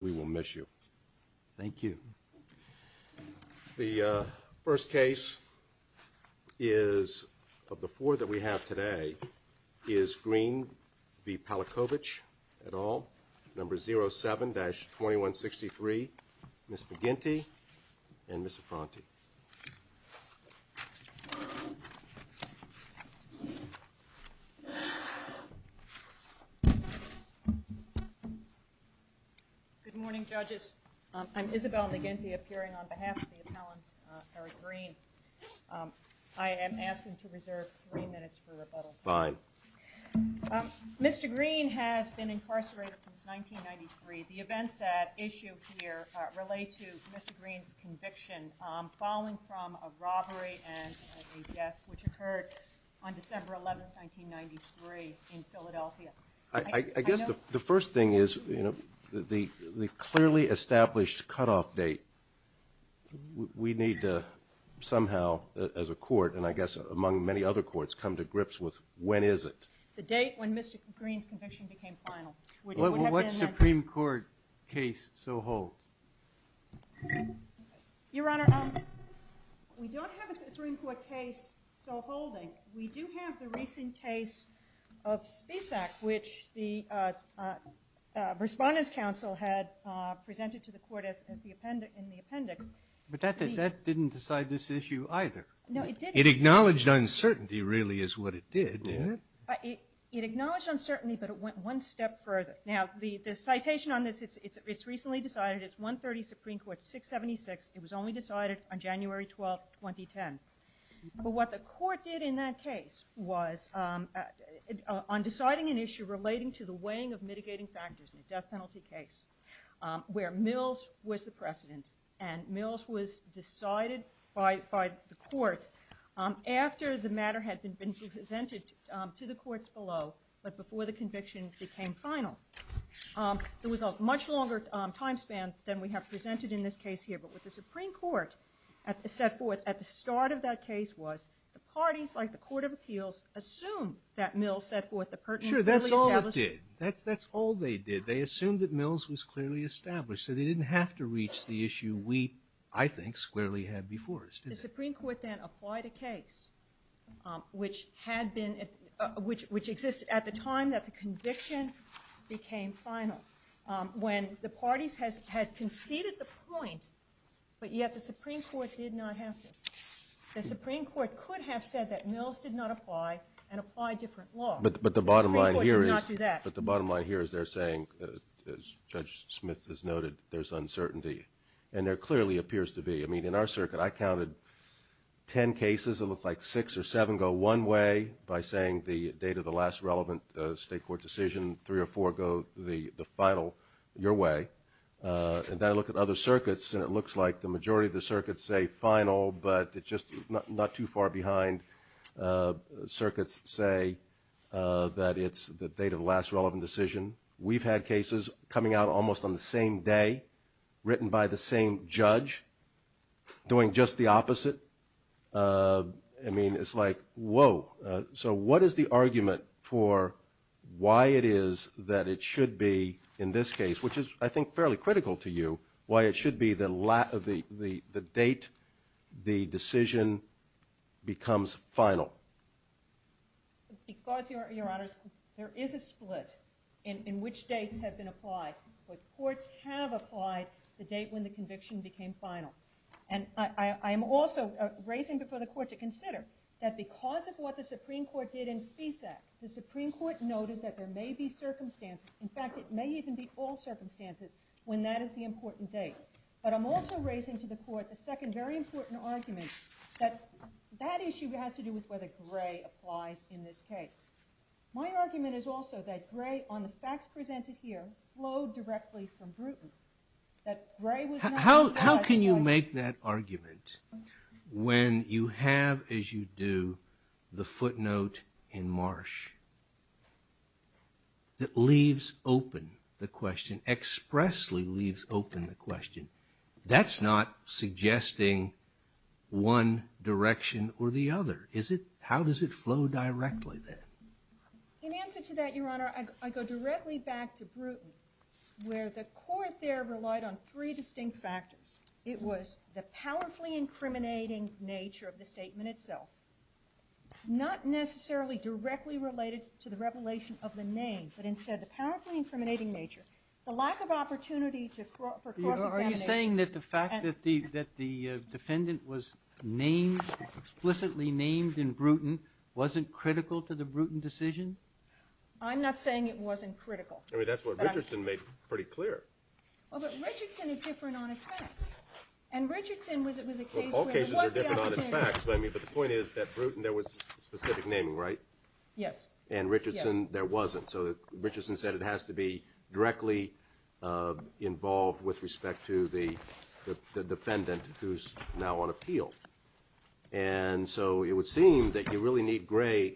We will miss you. Thank you. The first case is of the four that we have today is Greene v. Palakovich et al., number 07-2163, Ms. McGinty and Ms. Affronti. Good morning, judges. I'm Isabel McGinty, appearing on behalf of the appellant, Eric Greene. I am asking to reserve three minutes for rebuttal. Fine. Mr. Greene has been incarcerated since 1993. The events at issue here relate to Mr. Greene's conviction following from a robbery and a death, which occurred on December 11, 1993, in Philadelphia. I guess the first thing is, you know, the clearly established cutoff date. We need to somehow, as a court, and I guess among many other courts, come to grips with when is it? The date when Mr. Greene's conviction became final. What Supreme Court case so holds? Your Honor, we don't have a Supreme Court case so holding. We do have the recent case of Spisak, which the Respondents' Council had presented to the court in the appendix. But that didn't decide this issue either. No, it didn't. It acknowledged uncertainty, really, is what it did. It acknowledged uncertainty, but it went one step further. Now, the citation on this, it's recently decided. It's 130 Supreme Court 676. It was only decided on January 12, 2010. But what the court did in that case was, on deciding an issue relating to the weighing of mitigating factors in a death penalty case, where Mills was the precedent. And Mills was decided by the court after the matter had been presented to the courts below, but before the conviction became final. There was a much longer time span than we have presented in this case here. But what the Supreme Court set forth at the start of that case was, the parties, like the Court of Appeals, assumed that Mills set forth the pertinent Sure, that's all it did. That's all they did. They assumed that Mills was clearly established. So they didn't have to reach the issue we, I think, squarely had before us. The Supreme Court then applied a case, which existed at the time that the conviction became final, when the parties had conceded the point, but yet the Supreme Court did not have to. The Supreme Court could have said that Mills did not apply and apply a different law. But the bottom line here is they're saying, as Judge Smith has noted, there's uncertainty. And there clearly appears to be. I mean, in our circuit, I counted ten cases. It looked like six or seven go one way by saying the date of the last relevant state court decision. Three or four go the final, your way. And then I look at other circuits, and it looks like the majority of the circuits say final, but it's just not too far behind. Circuits say that it's the date of the last relevant decision. We've had cases coming out almost on the same day, written by the same judge, doing just the opposite. I mean, it's like, whoa. So what is the argument for why it is that it should be in this case, which is, I think, fairly critical to you, why it should be the date the decision becomes final? Because, Your Honors, there is a split in which dates have been applied. But courts have applied the date when the conviction became final. And I am also raising before the Court to consider that because of what the Supreme Court did in Spisak, the Supreme Court noted that there may be circumstances, in fact, it may even be all circumstances, when that is the important date. But I'm also raising to the Court a second very important argument, that that issue has to do with whether Gray applies in this case. My argument is also that Gray, on the facts presented here, flowed directly from Bruton. That Gray was not... How can you make that argument when you have, as you do, the footnote in Marsh that leaves open the question, expressly leaves open the question? That's not suggesting one direction or the other. How does it flow directly then? In answer to that, Your Honor, I go directly back to Bruton, where the Court there relied on three distinct factors. It was the powerfully incriminating nature of the statement itself, not necessarily directly related to the revelation of the name, but instead the powerfully incriminating nature. The lack of opportunity for cross-examination... Are you saying that the fact that the defendant was explicitly named in Bruton wasn't critical to the Bruton decision? I'm not saying it wasn't critical. I mean, that's what Richardson made pretty clear. Well, but Richardson is different on its facts. And Richardson was... Well, all cases are different on its facts, but the point is that Bruton, there was specific naming, right? Yes. And Richardson, there wasn't. So Richardson said it has to be directly involved with respect to the defendant who's now on appeal. And so it would seem that you really need Gray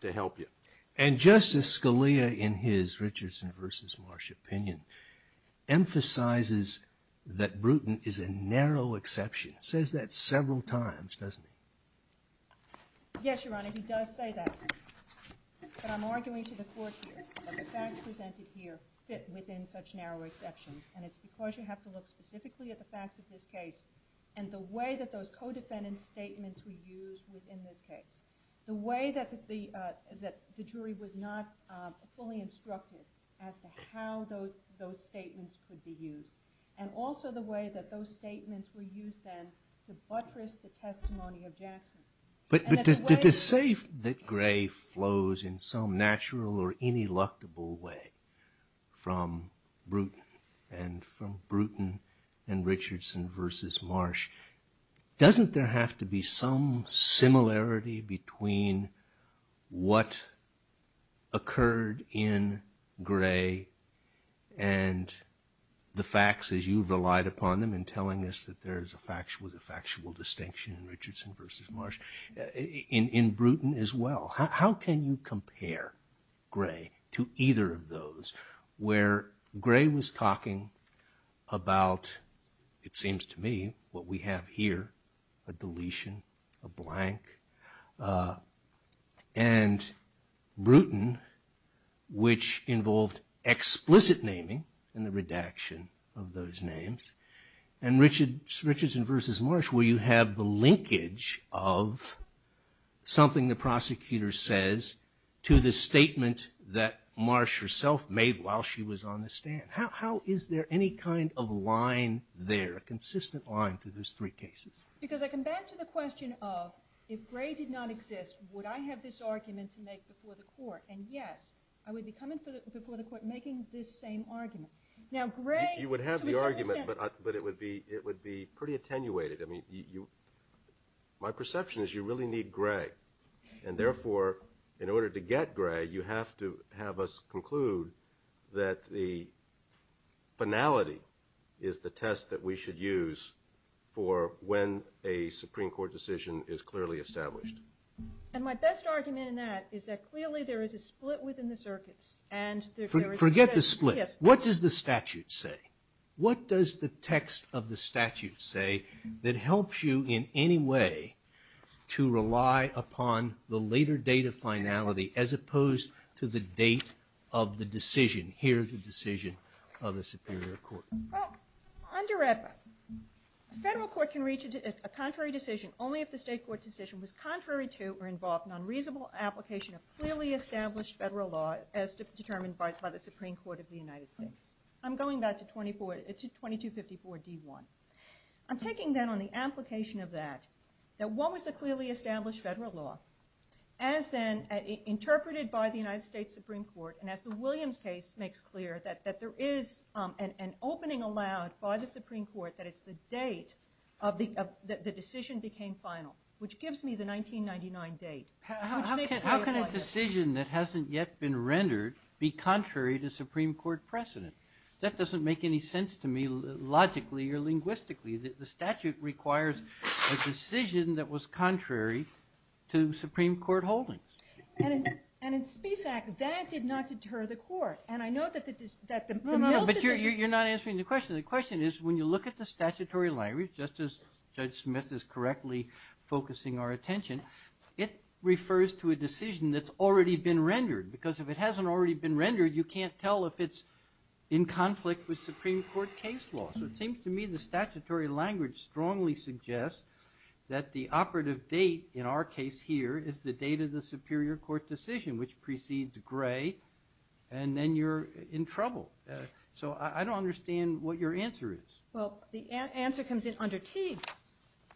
to help you. And Justice Scalia, in his Richardson v. Marsh opinion, emphasizes that Bruton is a narrow exception. He says that several times, doesn't he? Yes, Your Honor, he does say that. But I'm arguing to the Court here that the facts presented here fit within such narrow exceptions, and it's because you have to look specifically at the facts of this case and the way that those co-defendant statements were used within this case, the way that the jury was not fully instructed as to how those statements could be used, and also the way that those statements were used then to buttress the testimony of Jackson. But to say that Gray flows in some natural or ineluctable way from Bruton and from Bruton and Richardson v. Marsh, doesn't there have to be some similarity between what occurred in Gray and the facts as you relied upon them in telling us that there was a factual distinction in Richardson v. Marsh, in Bruton as well? How can you compare Gray to either of those where Gray was talking about, it seems to me, what we have here, a deletion, a blank, and Bruton, which involved explicit naming in the redaction of those names, and Richardson v. Marsh where you have the linkage of something the prosecutor says to the statement that Marsh herself made while she was on the stand? How is there any kind of line there, a consistent line through those three cases? Because I come back to the question of, if Gray did not exist, would I have this argument to make before the court? And yes, I would be coming before the court making this same argument. Now, Gray, to a certain extent— You would have the argument, but it would be pretty attenuated. I mean, my perception is you really need Gray. And therefore, in order to get Gray, you have to have us conclude that the finality is the test that we should use for when a Supreme Court decision is clearly established. And my best argument in that is that clearly there is a split within the circuits. Forget the split. What does the statute say? What does the text of the statute say that helps you in any way to rely upon the later date of finality as opposed to the date of the decision? Here is the decision of the Superior Court. Well, under AEDBA, a federal court can reach a contrary decision only if the state court decision was contrary to or involved in an unreasonable application of clearly established federal law as determined by the Supreme Court of the United States. I'm going back to 2254d.1. I'm taking then on the application of that, that what was the clearly established federal law as then interpreted by the United States Supreme Court and as the Williams case makes clear, that there is an opening allowed by the Supreme Court that it's the date that the decision became final, which gives me the 1999 date. How can a decision that hasn't yet been rendered be contrary to Supreme Court precedent? That doesn't make any sense to me logically or linguistically. The statute requires a decision that was contrary to Supreme Court holdings. And in Speech Act, that did not deter the court. But you're not answering the question. The question is when you look at the statutory language, just as Judge Smith is correctly focusing our attention, it refers to a decision that's already been rendered because if it hasn't already been rendered, you can't tell if it's in conflict with Supreme Court case law. So it seems to me the statutory language strongly suggests that the operative date in our case here is the date of the Superior Court decision, which precedes Gray, and then you're in trouble. So I don't understand what your answer is. Well, the answer comes in under Teague,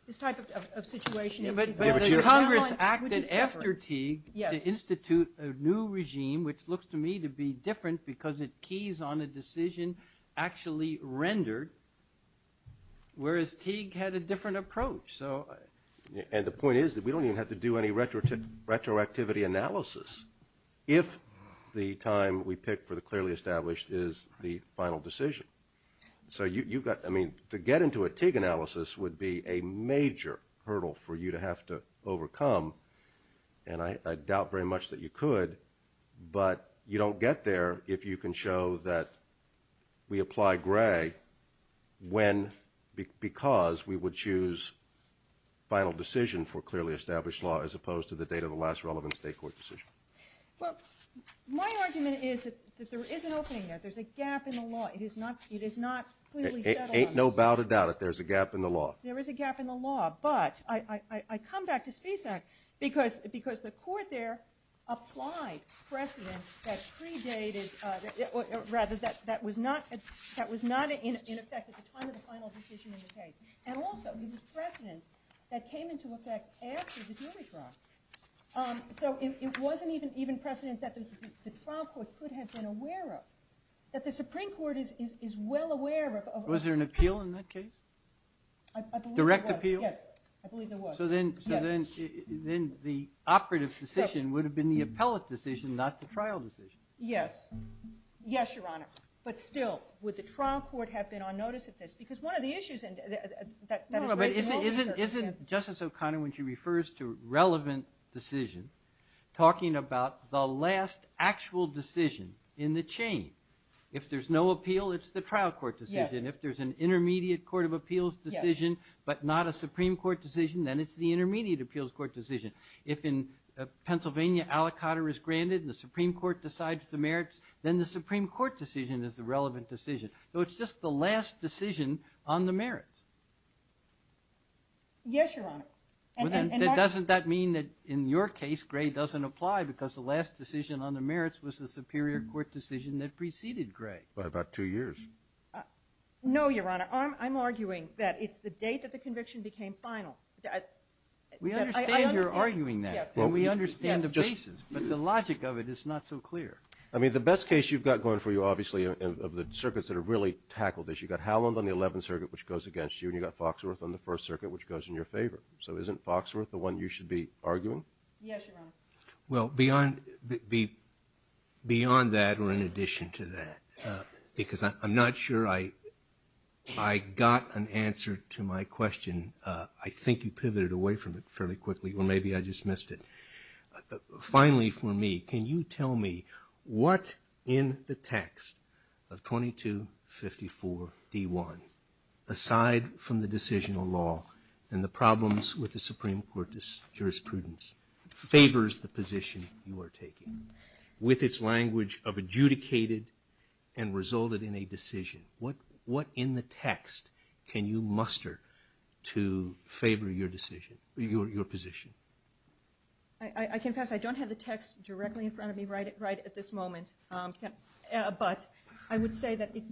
this type of situation. But Congress acted after Teague to institute a new regime, which looks to me to be different because it keys on a decision actually rendered, whereas Teague had a different approach. And the point is that we don't even have to do any retroactivity analysis if the time we pick for the clearly established is the final decision. So to get into a Teague analysis would be a major hurdle for you to have to overcome, and I doubt very much that you could, but you don't get there if you can show that we apply Gray because we would choose final decision for clearly established law as opposed to the date of the last relevant state court decision. Well, my argument is that there is an opening there. There's a gap in the law. It is not clearly settled on this. It ain't no bout of doubt that there's a gap in the law. There is a gap in the law, but I come back to Spisak because the court there applied precedent that predated, or rather that was not in effect at the time of the final decision in the case, and also the precedent that came into effect after the jury trial. So it wasn't even precedent that the trial court could have been aware of, that the Supreme Court is well aware of. Was there an appeal in that case? Direct appeal? Yes, I believe there was. So then the operative decision would have been the appellate decision, not the trial decision. Yes. Yes, Your Honor. But still, would the trial court have been on notice of this? Because one of the issues that is raised in all these circumstances. Isn't Justice O'Connor, when she refers to relevant decision, talking about the last actual decision in the chain? If there's no appeal, it's the trial court decision. Yes. If there's an intermediate court of appeals decision, but not a Supreme Court decision, then it's the intermediate appeals court decision. If in Pennsylvania, aliquotter is granted, and the Supreme Court decides the merits, then the Supreme Court decision is the relevant decision. So it's just the last decision on the merits. Yes, Your Honor. Doesn't that mean that in your case, Gray doesn't apply because the last decision on the merits was the Superior Court decision that preceded Gray? By about two years. No, Your Honor. I'm arguing that it's the date that the conviction became final. We understand you're arguing that, and we understand the basis, but the logic of it is not so clear. I mean, the best case you've got going for you, obviously, of the circuits that have really tackled this, you've got Howland on the Eleventh Circuit, which goes against you, and you've got Foxworth on the First Circuit, which goes in your favor. So isn't Foxworth the one you should be arguing? Yes, Your Honor. Well, beyond that, or in addition to that, because I'm not sure I got an answer to my question, I think you pivoted away from it fairly quickly, or maybe I just missed it. Finally for me, can you tell me what in the text of 2254 D.1, aside from the decisional law and the problems with the Supreme Court's jurisprudence, favors the position you are taking? With its language of adjudicated and resulted in a decision, what in the text can you muster to favor your decision, your position? I confess I don't have the text directly in front of me right at this moment, but I would say that it's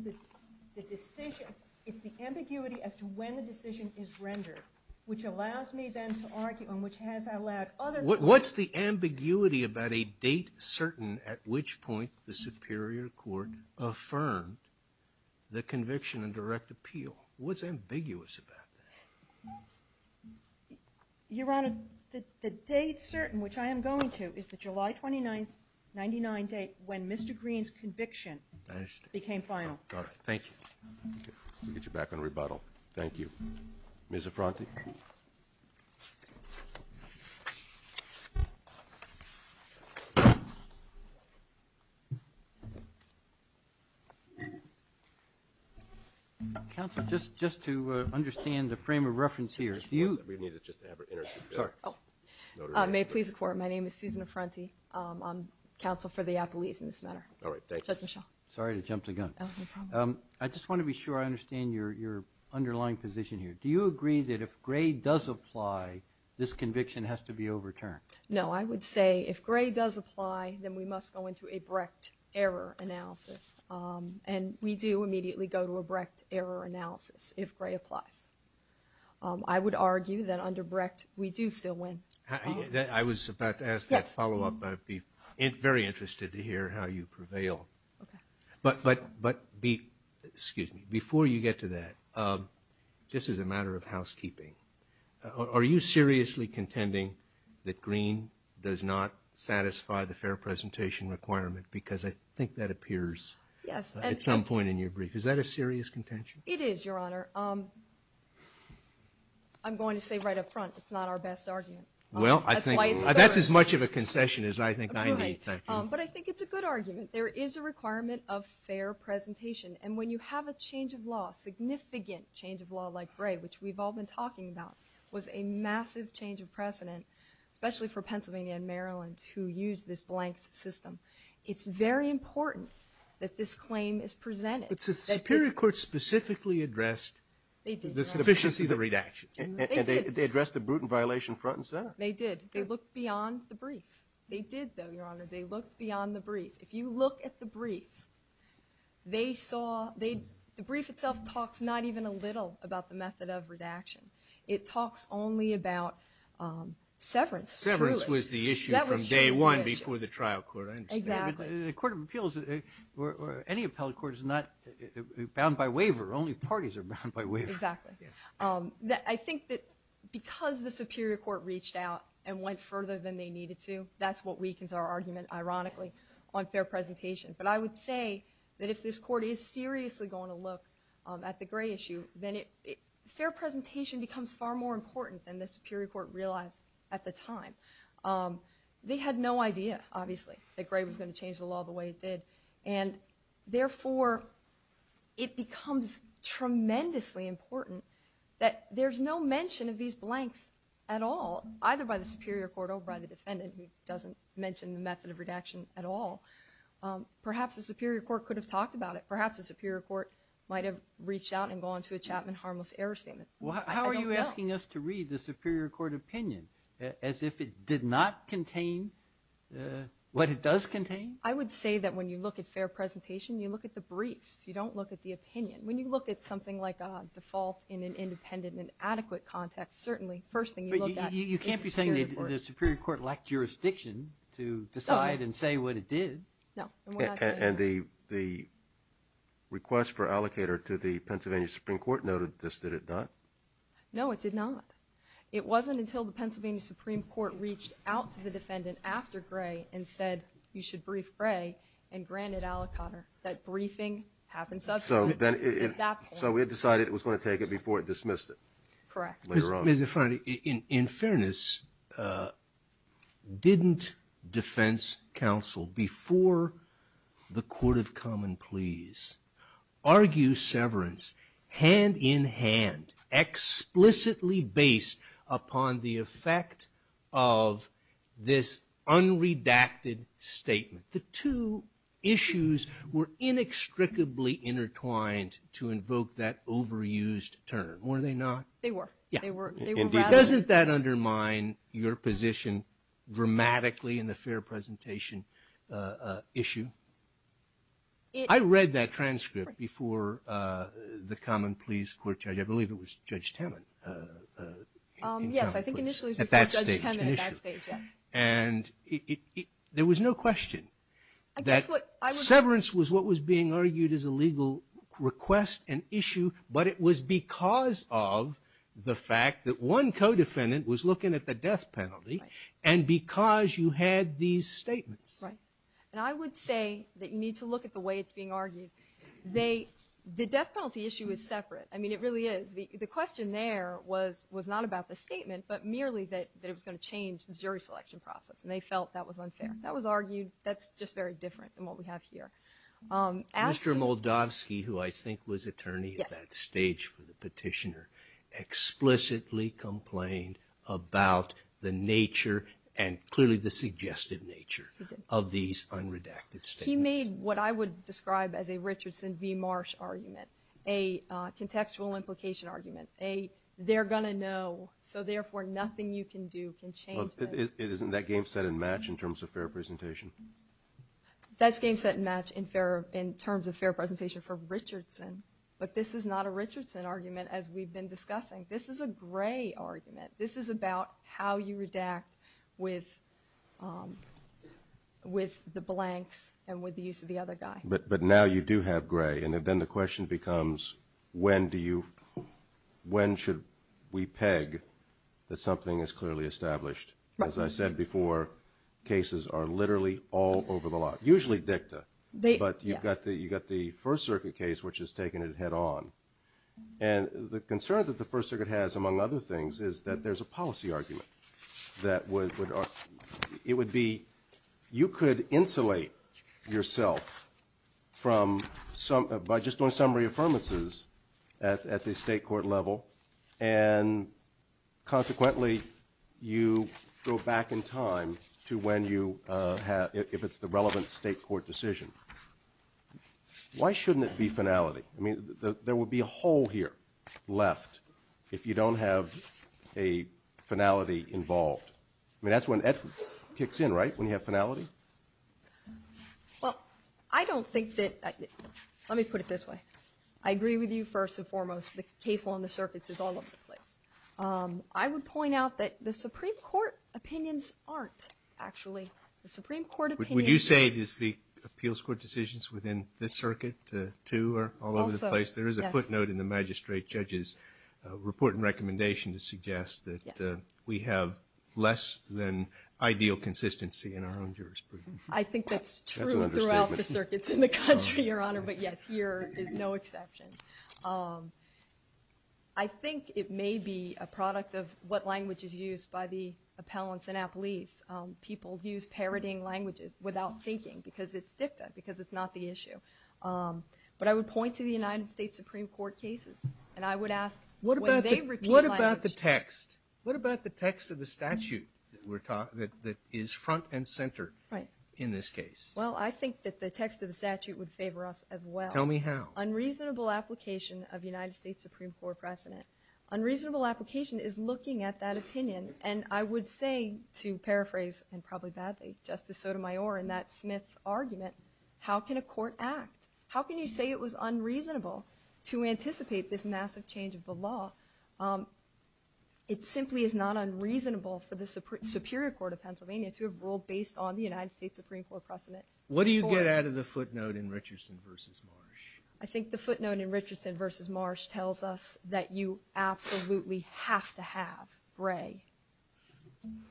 the decision, it's the ambiguity as to when the decision is rendered, which allows me then to argue and which has allowed other things. What's the ambiguity about a date certain at which point the Superior Court affirmed the conviction and direct appeal? What's ambiguous about that? Your Honor, the date certain, which I am going to, is the July 29, 1999 date when Mr. Green's conviction became final. Got it. Thank you. We'll get you back on rebuttal. Thank you. Ms. Affronti. Counsel, just to understand the frame of reference here. We needed just to have her introduce herself. Sorry. May it please the Court, my name is Susan Affronti. I'm counsel for the Appellees in this matter. All right, thank you. Judge Michel. Sorry to jump the gun. No problem. I just want to be sure I understand your underlying position here. Do you agree that if Gray does apply, this conviction has to be overturned? No. I would say if Gray does apply, then we must go into a Brecht error analysis. And we do immediately go to a Brecht error analysis if Gray applies. I would argue that under Brecht we do still win. I was about to ask that follow-up. I'd be very interested to hear how you prevail. Okay. But before you get to that, just as a matter of housekeeping, are you seriously contending that Green does not satisfy the fair presentation requirement? Because I think that appears at some point in your brief. Is that a serious contention? It is, Your Honor. I'm going to say right up front it's not our best argument. That's as much of a concession as I think I need. But I think it's a good argument. There is a requirement of fair presentation. And when you have a change of law, significant change of law like Gray, which we've all been talking about, was a massive change of precedent, especially for Pennsylvania and Maryland who used this blank system. It's very important that this claim is presented. But the Superior Court specifically addressed the sufficiency of the redaction. They did. And they addressed the Bruton violation front and center. They did. They did, though, Your Honor. They looked beyond the brief. If you look at the brief, they saw the brief itself talks not even a little about the method of redaction. It talks only about severance. Severance was the issue from day one before the trial court. I understand. The Court of Appeals or any appellate court is not bound by waiver. Only parties are bound by waiver. Exactly. I think that because the Superior Court reached out and went further than they needed to, that's what weakens our argument, ironically, on fair presentation. But I would say that if this court is seriously going to look at the Gray issue, then fair presentation becomes far more important than the Superior Court realized at the time. They had no idea, obviously, that Gray was going to change the law the way it did. And, therefore, it becomes tremendously important that there's no mention of these blanks at all, either by the Superior Court or by the defendant who doesn't mention the method of redaction at all. Perhaps the Superior Court could have talked about it. Perhaps the Superior Court might have reached out and gone to a Chapman harmless error statement. How are you asking us to read the Superior Court opinion as if it did not contain what it does contain? I would say that when you look at fair presentation, you look at the briefs. You don't look at the opinion. When you look at something like a default in an independent and adequate context, certainly, the first thing you look at is the Superior Court. But you can't be saying that the Superior Court lacked jurisdiction to decide and say what it did. No, and we're not saying that. And the request for allocator to the Pennsylvania Supreme Court noted this, did it not? No, it did not. It wasn't until the Pennsylvania Supreme Court reached out to the defendant after Gray and said you should brief Gray and granted aliquotter that briefing happened subsequently at that point. So it decided it was going to take it before it dismissed it later on. In fairness, didn't defense counsel before the court of common pleas argue severance hand in hand, explicitly based upon the effect of this unredacted statement? The two issues were inextricably intertwined to invoke that overused term, were they not? They were. Yeah, indeed. Doesn't that undermine your position dramatically in the fair presentation issue? I read that transcript before the common pleas court judge. I believe it was Judge Temin. Yes, I think initially before Judge Temin at that stage, yes. And there was no question that severance was what was being argued as a legal request and issue, but it was because of the fact that one co-defendant was looking at the death penalty and because you had these statements. And I would say that you need to look at the way it's being argued. The death penalty issue is separate. I mean, it really is. The question there was not about the statement, but merely that it was going to change the jury selection process, and they felt that was unfair. That was argued. That's just very different than what we have here. Mr. Moldavsky, who I think was attorney at that stage for the petitioner, explicitly complained about the nature and clearly the suggested nature of these unredacted statements. He made what I would describe as a Richardson v. Marsh argument, a contextual implication argument, a they're going to know, so therefore nothing you can do can change this. Isn't that game set and match in terms of fair presentation? That's game set and match in terms of fair presentation for Richardson, but this is not a Richardson argument as we've been discussing. This is a Gray argument. This is about how you redact with the blanks and with the use of the other guy. But now you do have Gray, and then the question becomes, when should we peg that something is clearly established? As I said before, cases are literally all over the lot, usually dicta, but you've got the First Circuit case, which has taken it head on. And the concern that the First Circuit has, among other things, is that there's a policy argument that would be you could insulate yourself by just doing summary affirmances at the state court level, and consequently you go back in time to when you have, if it's the relevant state court decision. Why shouldn't it be finality? I mean, there would be a hole here left if you don't have a finality involved. I mean, that's when Ed kicks in, right, when you have finality? Well, I don't think that, let me put it this way. I agree with you first and foremost. The case on the circuits is all over the place. I would point out that the Supreme Court opinions aren't actually, the Supreme Court opinion is. Would you say it is the appeals court decisions within this circuit too are all over the place? Also, yes. There is a footnote in the magistrate judge's report and recommendation to suggest that we have less than ideal consistency in our own jurisprudence. I think that's true throughout the circuits in the country, Your Honor, but yes, here is no exception. I think it may be a product of what language is used by the appellants and appellees. People use parodying languages without thinking because it's dicta, because it's not the issue. But I would point to the United States Supreme Court cases, and I would ask would they repeat language? What about the text? What about the text of the statute that is front and center in this case? Well, I think that the text of the statute would favor us as well. Tell me how. Unreasonable application of United States Supreme Court precedent. Unreasonable application is looking at that opinion, and I would say to paraphrase, and probably badly, Justice Sotomayor in that Smith argument, how can a court act? How can you say it was unreasonable to anticipate this massive change of the law? It simply is not unreasonable for the Superior Court of Pennsylvania to have ruled based on the United States Supreme Court precedent. What do you get out of the footnote in Richardson v. Marsh? I think the footnote in Richardson v. Marsh tells us that you absolutely have to have gray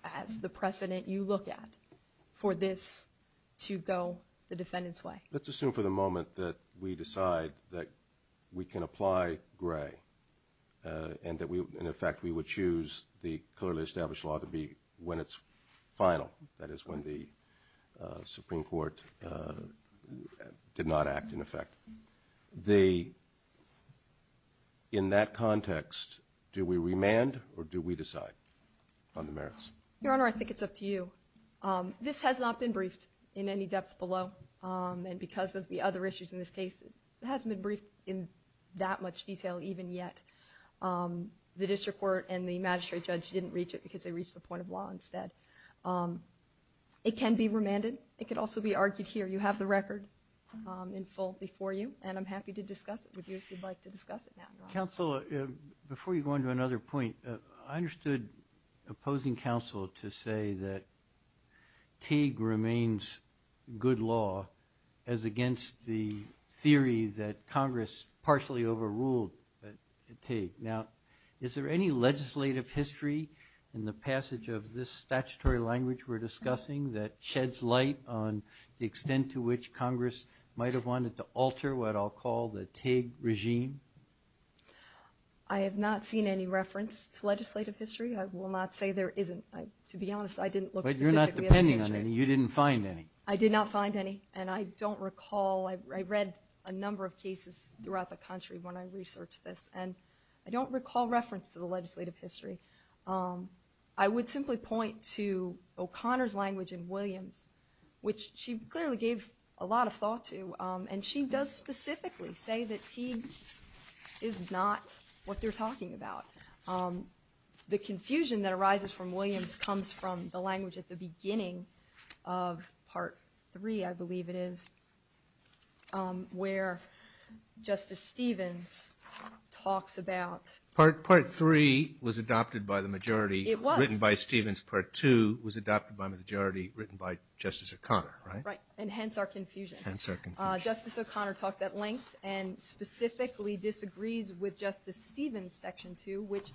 as the precedent you look at for this to go the defendant's way. Let's assume for the moment that we decide that we can apply gray and, in effect, we would choose the clearly established law to be when it's final, that is, when the Supreme Court did not act in effect. In that context, do we remand or do we decide on the merits? Your Honor, I think it's up to you. This has not been briefed in any depth below, and because of the other issues in this case, it hasn't been briefed in that much detail even yet. The district court and the magistrate judge didn't reach it because they reached the point of law instead. It can be remanded. It could also be argued here. You have the record in full before you, and I'm happy to discuss it with you if you'd like to discuss it now. Counsel, before you go on to another point, I understood opposing counsel to say that Teague remains good law as against the theory that Congress partially overruled Teague. Now, is there any legislative history in the passage of this statutory language we're discussing that sheds light on the extent to which Congress might have wanted to alter what I'll call the Teague regime? I have not seen any reference to legislative history. I will not say there isn't. To be honest, I didn't look specifically at the history. But you're not depending on any. You didn't find any. I did not find any, and I don't recall. I read a number of cases throughout the country when I researched this, and I don't recall reference to the legislative history. I would simply point to O'Connor's language in Williams, which she clearly gave a lot of thought to, and she does specifically say that Teague is not what they're talking about. The confusion that arises from Williams comes from the language at the beginning of Part III, I believe it is, where Justice Stevens talks about – Part III was adopted by the majority. It was. Written by Stevens. Part II was adopted by the majority, written by Justice O'Connor, right? Right, and hence our confusion. Hence our confusion. Justice O'Connor talks at length and specifically disagrees with Justice Stevens' Section 2, which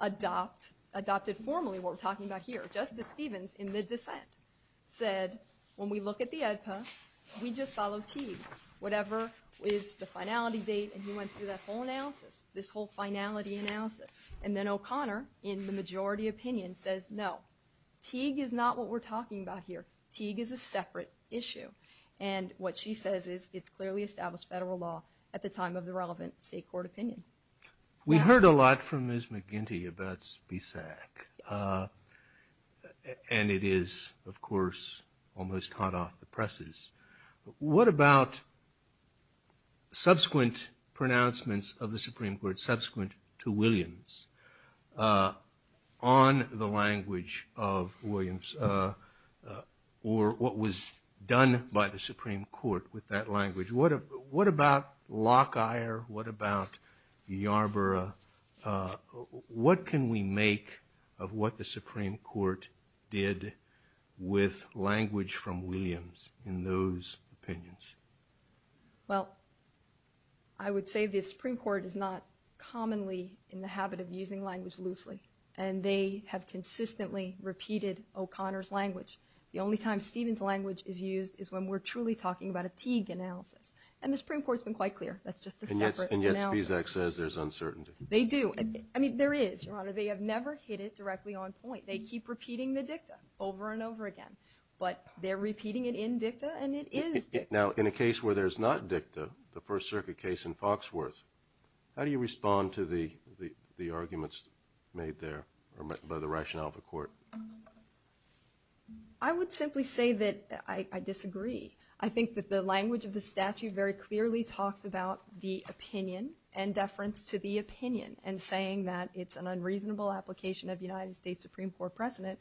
adopted formally what we're talking about here. Justice Stevens, in the dissent, said, when we look at the AEDPA, we just follow Teague. Whatever is the finality date, and he went through that whole analysis, this whole finality analysis. And then O'Connor, in the majority opinion, says no. Teague is not what we're talking about here. Teague is a separate issue. And what she says is it's clearly established federal law at the time of the relevant state court opinion. We heard a lot from Ms. McGinty about BSAC, and it is, of course, almost hot off the presses. What about subsequent pronouncements of the Supreme Court, subsequent to Williams, on the language of Williams or what was done by the Supreme Court with that language? What about Lockyer? What about Yarborough? What can we make of what the Supreme Court did with language from Williams in those opinions? Well, I would say the Supreme Court is not commonly in the habit of using language loosely, and they have consistently repeated O'Connor's language. The only time Stevens' language is used is when we're truly talking about a Teague analysis. And the Supreme Court's been quite clear. That's just a separate analysis. And yet BSAC says there's uncertainty. They do. I mean, there is, Your Honor. They have never hit it directly on point. They keep repeating the dicta over and over again. But they're repeating it in dicta, and it is dicta. Now, in a case where there's not dicta, the First Circuit case in Foxworth, how do you respond to the arguments made there by the rationale of the court? I would simply say that I disagree. I think that the language of the statute very clearly talks about the opinion and deference to the opinion, and saying that it's an unreasonable application of United States Supreme Court precedent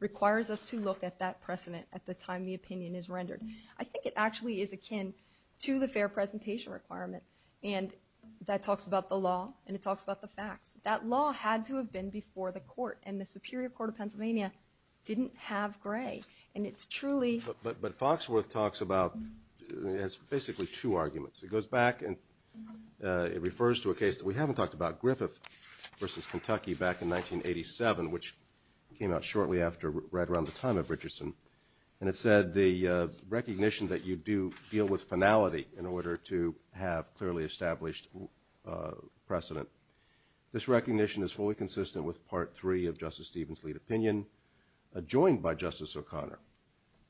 requires us to look at that precedent at the time the opinion is rendered. I think it actually is akin to the fair presentation requirement, and that talks about the law, and it talks about the facts. That law had to have been before the court, and the Superior Court of Pennsylvania didn't have gray, and it's truly... But Foxworth talks about... It has basically two arguments. It goes back, and it refers to a case that we haven't talked about, Griffith v. Kentucky back in 1987, which came out shortly after, right around the time of Richardson, and it said the recognition that you do deal with finality in order to have clearly established precedent. This recognition is fully consistent with Part 3 of Justice Stevens' lead opinion, joined by Justice O'Connor.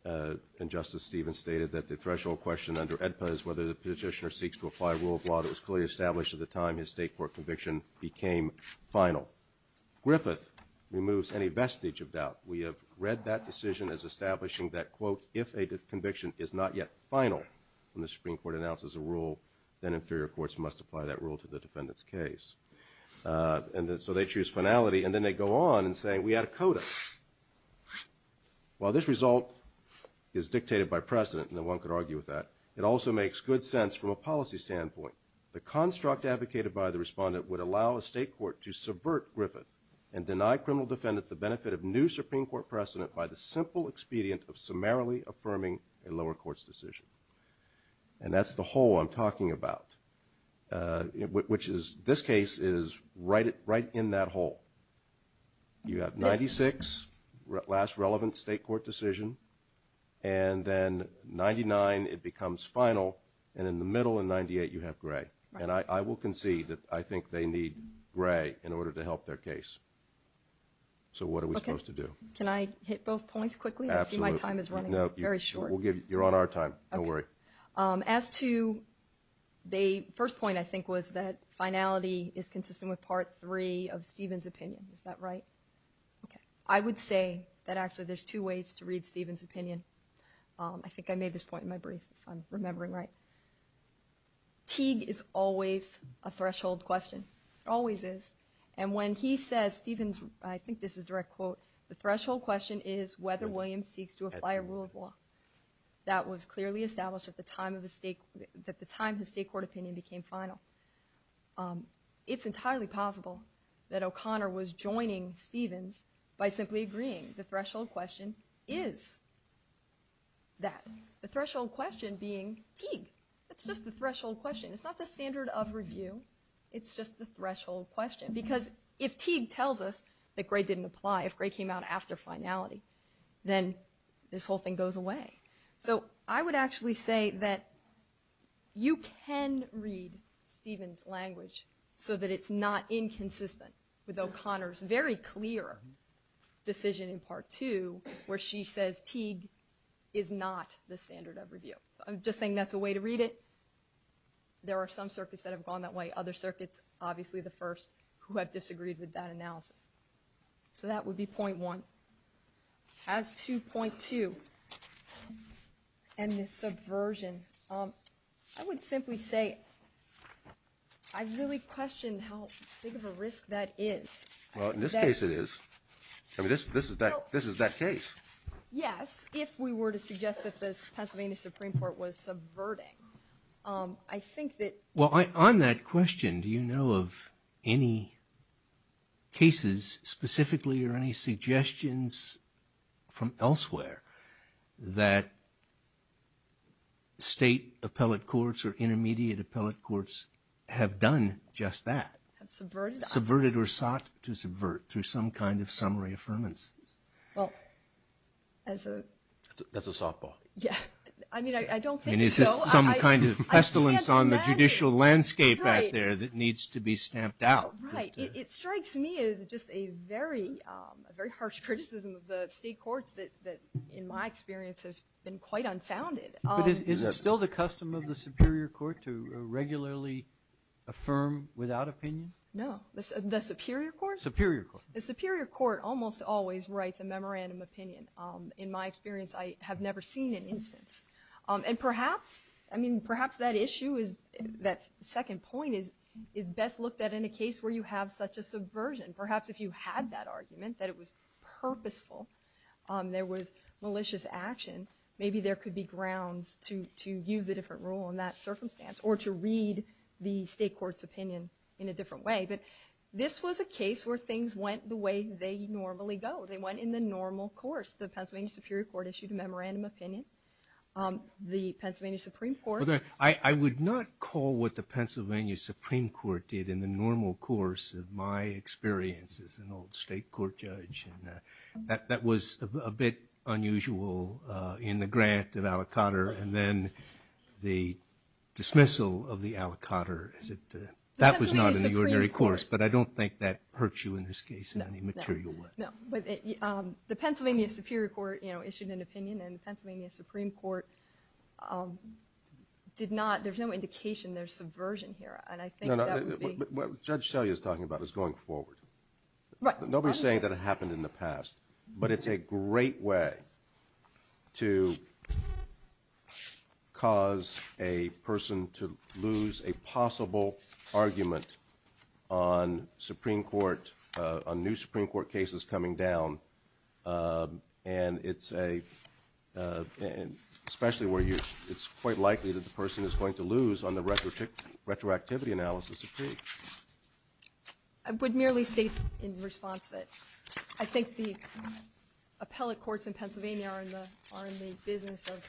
And Justice Stevens stated that the threshold question under AEDPA is whether the petitioner seeks to apply a rule of law that was clearly established at the time his state court conviction became final. Griffith removes any vestige of doubt. We have read that decision as establishing that, quote, if a conviction is not yet final when the Supreme Court announces a rule, then inferior courts must apply that rule to the defendant's case. And so they choose finality, and then they go on in saying, we add a coda. While this result is dictated by precedent, and no one could argue with that, it also makes good sense from a policy standpoint. The construct advocated by the respondent would allow a state court to subvert Griffith and deny criminal defendants the benefit of new Supreme Court precedent by the simple expedient of summarily affirming a lower court's decision. And that's the whole I'm talking about, which is, this case is right in that hole. You have 96, last relevant state court decision, and then 99, it becomes final, and in the middle in 98, you have gray. And I will concede that I think they need gray in order to help their case. So what are we supposed to do? Can I hit both points quickly? Absolutely. I see my time is running very short. You're on our time, don't worry. As to the first point I think was that finality is consistent with part three of Stephen's opinion, is that right? I would say that actually there's two ways to read Stephen's opinion. I think I made this point in my brief, if I'm remembering right. Teague is always a threshold question. Always is. And when he says, Stephen's, I think this is direct quote, the threshold question is whether Williams seeks to apply a rule of law. That was clearly established at the time his state court opinion became final. It's entirely possible that O'Connor was joining Stephen's by simply agreeing the threshold question is that. The threshold question being Teague. That's just the threshold question. It's not the standard of review. It's just the threshold question. Because if Teague tells us that gray didn't apply, if gray came out after finality, then this whole thing goes away. So I would actually say that you can read Stephen's language so that it's not inconsistent with O'Connor's very clear decision in part two where she says Teague is not the standard of review. I'm just saying that's a way to read it. There are some circuits that have gone that way. Other circuits, obviously the first, who have disagreed with that analysis. So that would be point one. As to point two and the subversion, I would simply say I really question how big of a risk that is. Well, in this case it is. I mean, this is that case. Yes, if we were to suggest that the Pennsylvania Supreme Court was subverting. I think that... Well, on that question, do you know of any cases specifically or any suggestions from elsewhere that state appellate courts or intermediate appellate courts have done just that? Have subverted? Subverted or sought to subvert through some kind of summary affirmance. Well, as a... That's a softball. I mean, I don't think so. Some kind of pestilence on the judicial landscape out there that needs to be stamped out. Right. It strikes me as just a very harsh criticism of the state courts that, in my experience, has been quite unfounded. But is it still the custom of the Superior Court to regularly affirm without opinion? No. The Superior Court? Superior Court. The Superior Court almost always writes a memorandum opinion. In my experience, I have never seen an instance. And perhaps, I mean, perhaps that issue is... That second point is best looked at in a case where you have such a subversion. Perhaps if you had that argument, that it was purposeful, there was malicious action, maybe there could be grounds to use a different rule in that circumstance or to read the state court's opinion in a different way. But this was a case where things went the way they normally go. They went in the normal course. The Pennsylvania Superior Court issued a memorandum opinion. The Pennsylvania Supreme Court... I would not call what the Pennsylvania Supreme Court did in the normal course of my experience as an old state court judge. That was a bit unusual in the grant of Alicotter and then the dismissal of the Alicotter. That was not in the ordinary course, but I don't think that hurts you in this case in any material way. No, but the Pennsylvania Superior Court issued an opinion and the Pennsylvania Supreme Court did not... There's no indication there's subversion here, and I think that would be... What Judge Shelley is talking about is going forward. Right. Nobody's saying that it happened in the past, but it's a great way to cause a person to lose a possible argument on Supreme Court... Especially where it's quite likely that the person is going to lose on the retroactivity analysis of case. I would merely state in response that I think the appellate courts in Pennsylvania are in the business of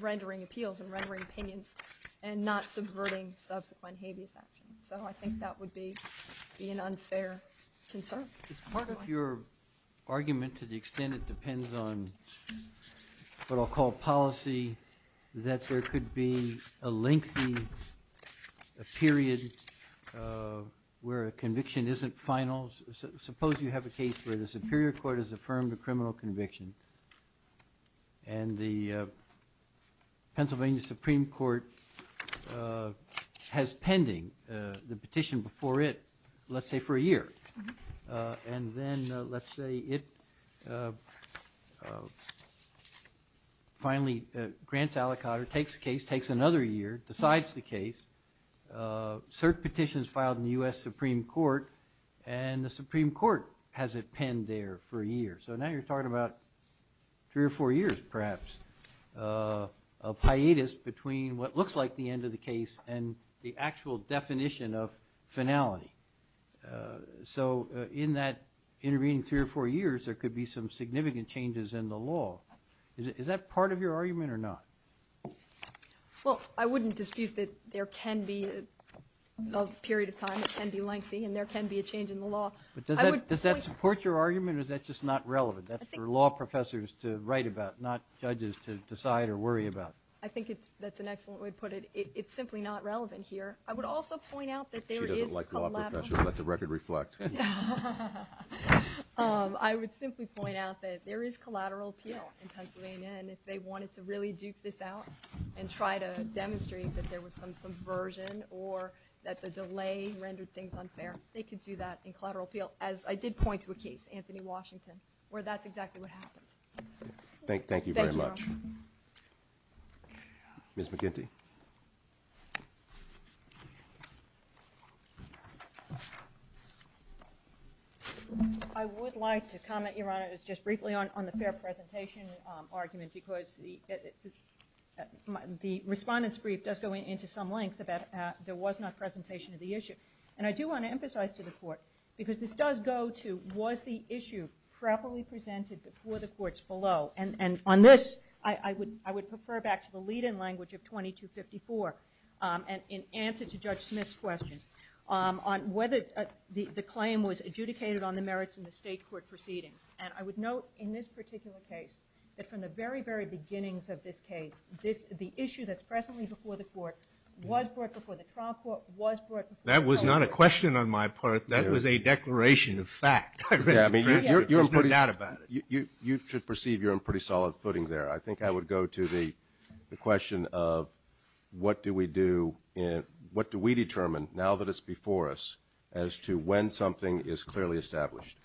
rendering appeals and rendering opinions and not subverting subsequent habeas action. So I think that would be an unfair concern. As part of your argument, to the extent it depends on what I'll call policy, that there could be a lengthy period where a conviction isn't final. Suppose you have a case where the Superior Court has affirmed a criminal conviction and the Pennsylvania Supreme Court has pending the petition before it, let's say for a year. And then let's say it finally grants aliquot or takes another year, decides the case. Cert petitions filed in the US Supreme Court and the Supreme Court has it penned there for a year. So now you're talking about three or four years, perhaps, of hiatus between what looks like the end of the case and the actual definition of finality. So in that intervening three or four years, there could be some significant changes in the law. Is that part of your argument or not? Well, I wouldn't dispute that there can be a period of time, it can be lengthy, and there can be a change in the law. But does that support your argument or is that just not relevant? That's for law professors to write about, not judges to decide or worry about. I think that's an excellent way to put it. It's simply not relevant here. I would also point out that there is a collateral appeal. She doesn't like law professors. Let the record reflect. I would simply point out that there is collateral appeal in Pennsylvania, and if they wanted to really duke this out and try to demonstrate that there was some subversion or that the delay rendered things unfair, they could do that in collateral appeal. As I did point to a case, Anthony Washington, where that's exactly what happened. Thank you very much. Ms. McGinty. I would like to comment, Your Honor, just briefly on the fair presentation argument because the respondent's brief does go into some length about there was not presentation of the issue. And I do want to emphasize to the Court, because this does go to, was the issue properly presented before the courts below? And on this, I would refer back to the lead-in language of 2254 in answer to Judge Smith's question on whether the claim was adjudicated on the merits of the state court proceedings. And I would note in this particular case that from the very, very beginnings of this case, the issue that's presently before the court was brought before the trial court, was brought before... That was not a question on my part. That was a declaration of fact. There's no doubt about it. You should perceive you're on pretty solid footing there. I think I would go to the question of what do we do, what do we determine now that it's before us as to when something is clearly established?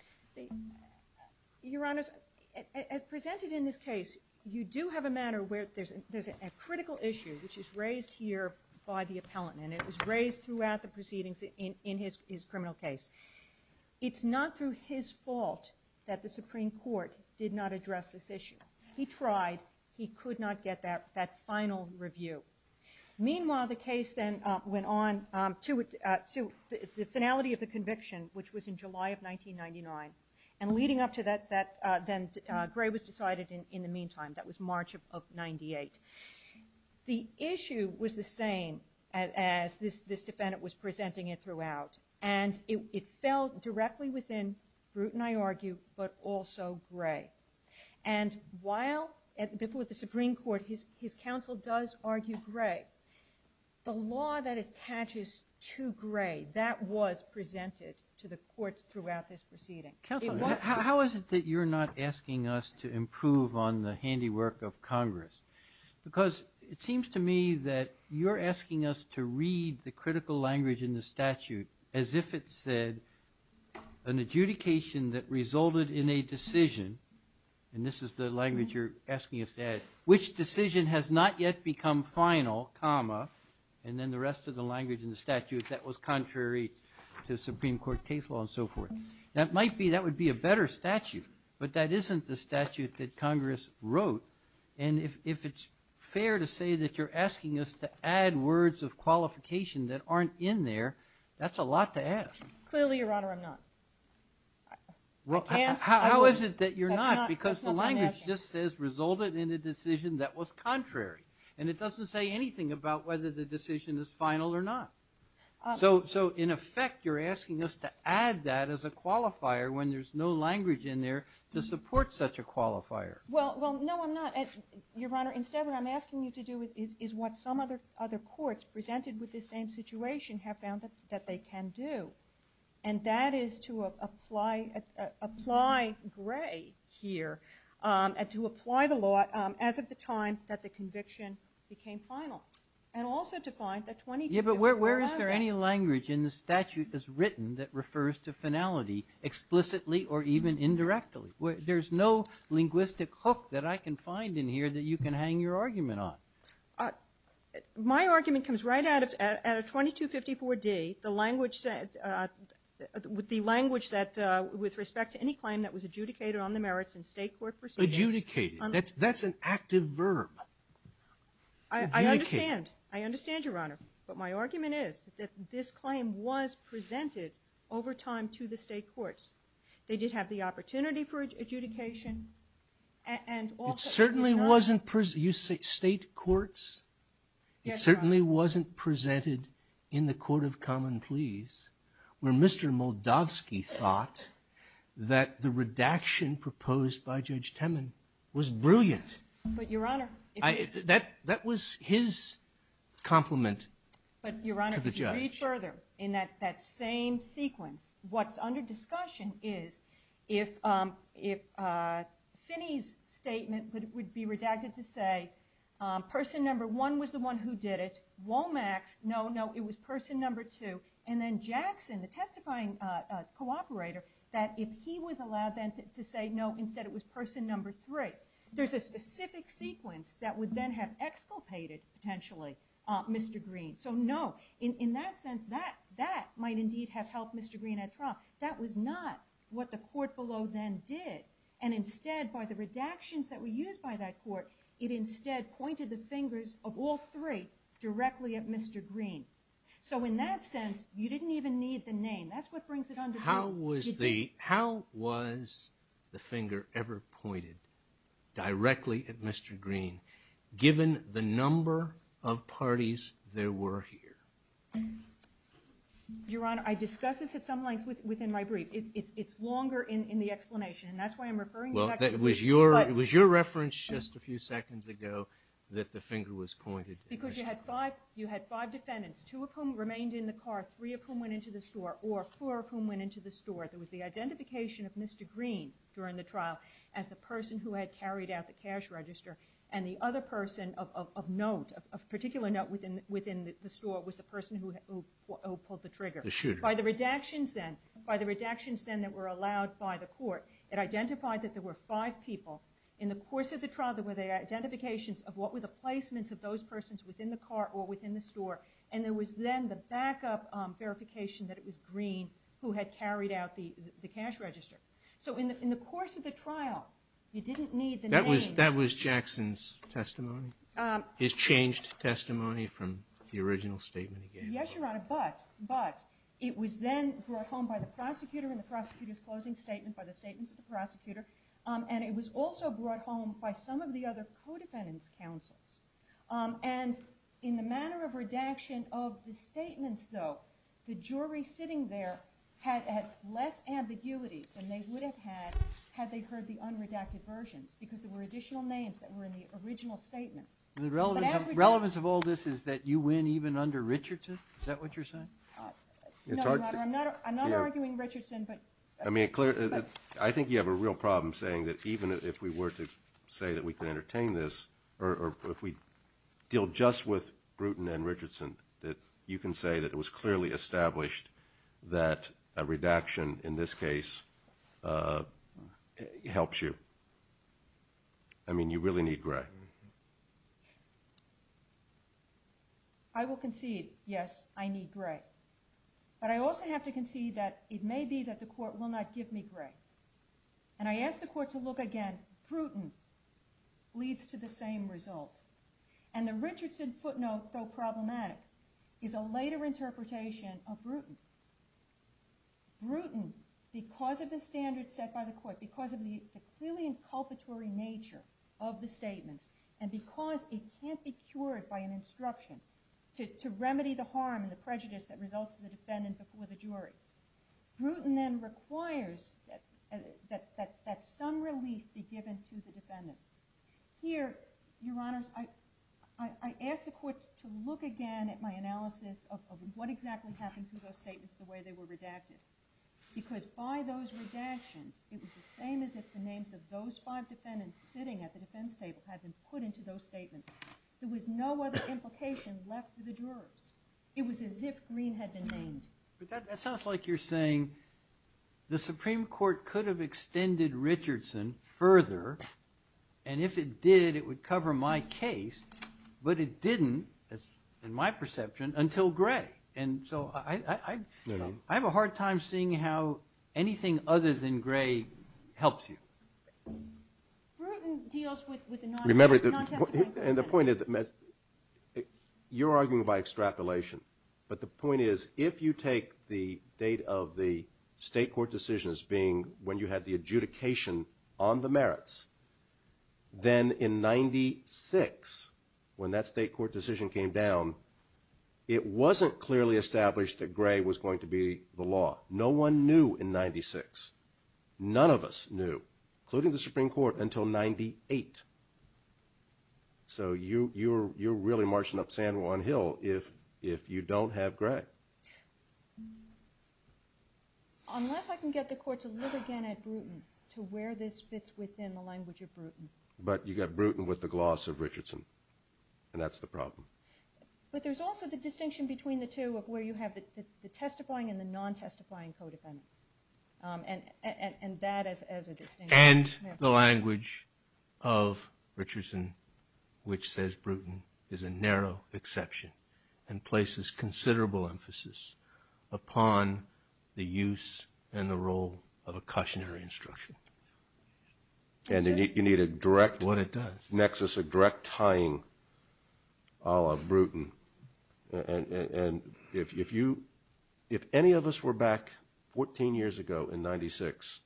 Your Honor, as presented in this case, you do have a matter where there's a critical issue which is raised here by the appellant. And it was raised throughout the proceedings in his criminal case. It's not through his fault that the Supreme Court did not address this issue. He tried. He could not get that final review. Meanwhile, the case then went on to the finality of the conviction, which was in July of 1999. And leading up to that, Gray was decided in the meantime. That was March of 98. The issue was the same as this defendant was presenting it throughout. And it fell directly within Bruton, I argue, but also Gray. And while before the Supreme Court, his counsel does argue Gray, the law that attaches to Gray, that was presented to the courts throughout this proceeding. Counsel, how is it that you're not asking us to improve on the handiwork of Congress? Because it seems to me that you're asking us to read the critical language in the statute as if it said, an adjudication that resulted in a decision, and this is the language you're asking us to add, which decision has not yet become final, comma, and then the rest of the language in the statute that was contrary to Supreme Court case law and so forth. That might be, that would be a better statute, but that isn't the statute that Congress wrote. And if it's fair to say that you're asking us to add words of qualification that aren't in there, that's a lot to ask. Clearly, Your Honor, I'm not. How is it that you're not? Because the language just says, resulted in a decision that was contrary. And it doesn't say anything about whether the decision is final or not. So in effect, you're asking us to add that as a qualifier when there's no language in there to support such a qualifier. Well, no, I'm not. Your Honor, instead, what I'm asking you to do is what some other courts presented with this same situation have found that they can do. And that is to apply gray here and to apply the law as of the time that the conviction became final. And also to find that 22... Yeah, but where is there any language in the statute that's written that refers to finality explicitly or even indirectly? There's no linguistic hook that I can find in here that you can hang your argument on. My argument comes right out of 2254d, the language that, with respect to any claim that was adjudicated on the merits in state court proceedings. Adjudicated? That's an active verb. I understand. I understand, Your Honor. But my argument is that this claim was presented over time to the state courts. They did have the opportunity for adjudication. And also... It certainly wasn't... You say state courts? Yes, Your Honor. It certainly wasn't presented in the court of common pleas where Mr. Moldavsky thought that the redaction proposed by Judge Temin was brilliant. But, Your Honor... That was his compliment to the judge. But, Your Honor, if you read further, in that same sequence, what's under discussion is if Finney's statement would be redacted to say person number one was the one who did it, Womack's, no, no, it was person number two, and then Jackson, the testifying cooperator, that if he was allowed then to say no, instead it was person number three. There's a specific sequence that would then have exculpated, potentially, Mr. Green. So, no, in that sense, that might indeed have helped Mr. Green at trial. That was not what the court below then did. And instead, by the redactions that were used by that court, it instead pointed the fingers of all three directly at Mr. Green. So, in that sense, you didn't even need the name. That's what brings it under discussion. How was the finger ever pointed directly at Mr. Green, given the number of parties there were here? Your Honor, I discussed this at some length within my brief. It's longer in the explanation, and that's why I'm referring to that. It was your reference just a few seconds ago that the finger was pointed at Mr. Green. Because you had five defendants, two of whom remained in the car, three of whom went into the store, or four of whom went into the store. There was the identification of Mr. Green during the trial as the person who had carried out the cash register, and the other person of note, of particular note within the store, was the person who pulled the trigger. The shooter. By the redactions then that were allowed by the court, it identified that there were five people. In the course of the trial, there were the identifications of what were the placements of those persons within the car or within the store, and there was then the backup verification that it was Green who had carried out the cash register. So in the course of the trial, you didn't need the names. That was Jackson's testimony? His changed testimony from the original statement he gave? Yes, Your Honor, but it was then brought home by the prosecutor in the prosecutor's closing statement, by the statements of the prosecutor, and it was also brought home by some of the other co-defendants' counsels. And in the manner of redaction of the statements, though, the jury sitting there had less ambiguity than they would have had had they heard the unredacted versions because there were additional names that were in the original statements. The relevance of all this is that you win even under Richardson? Is that what you're saying? No, Your Honor, I'm not arguing Richardson, but... I mean, I think you have a real problem saying that even if we were to say that we can entertain this, or if we deal just with Bruton and Richardson, that you can say that it was clearly established that a redaction in this case helps you. I mean, you really need Gray. I will concede, yes, I need Gray. But I also have to concede that it may be that the court will not give me Gray. And I ask the court to look again. And Bruton leads to the same result. And the Richardson footnote, though problematic, is a later interpretation of Bruton. Bruton, because of the standards set by the court, because of the clearly inculpatory nature of the statements, and because it can't be cured by an instruction to remedy the harm and the prejudice that results in the defendant before the jury, Bruton then requires that some relief be given to the defendant. Here, Your Honors, I ask the court to look again at my analysis of what exactly happened to those statements, the way they were redacted. Because by those redactions, it was the same as if the names of those five defendants sitting at the defense table had been put into those statements. There was no other implication left to the jurors. It was as if Green had been named. But that sounds like you're saying the Supreme Court could have extended Richardson further, and if it did, it would cover my case, but it didn't, in my perception, until Gray. And so I have a hard time seeing how anything other than Gray helps you. Bruton deals with the non-testimony. And the point is, you're arguing by extrapolation, but the point is, if you take the date of the state court decisions being when you had the adjudication on the merits, then in 96, when that state court decision came down, it wasn't clearly established that Gray was going to be the law. No one knew in 96. None of us knew, including the Supreme Court, until 98. So you're really marching up San Juan Hill if you don't have Gray. Unless I can get the court to look again at Bruton, to where this fits within the language of Bruton. But you got Bruton with the gloss of Richardson, and that's the problem. But there's also the distinction between the two of where you have the testifying and the non-testifying co-defendant, and that as a distinction. And the language of Richardson, which says Bruton, is a narrow exception and places considerable emphasis upon the use and the role of a cautionary instruction. And you need a direct nexus, a direct tying, a la Bruton. And if any of us were back 14 years ago in 96,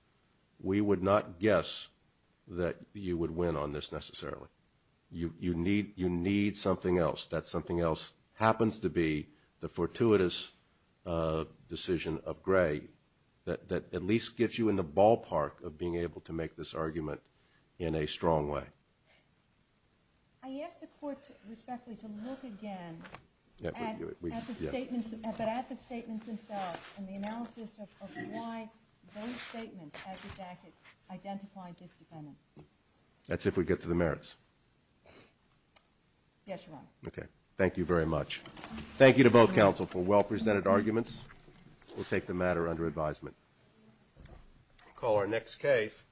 we would not guess that you would win on this necessarily. You need something else. That something else happens to be the fortuitous decision of Gray that at least gets you in the ballpark of being able to make this argument in a strong way. I ask the court, respectfully, to look again at the statements themselves and the analysis of why those statements identified this defendant. That's if we get to the merits. Yes, Your Honor. Okay. Thank you very much. Thank you to both counsel for well-presented arguments. We'll take the matter under advisement. We'll call our next case.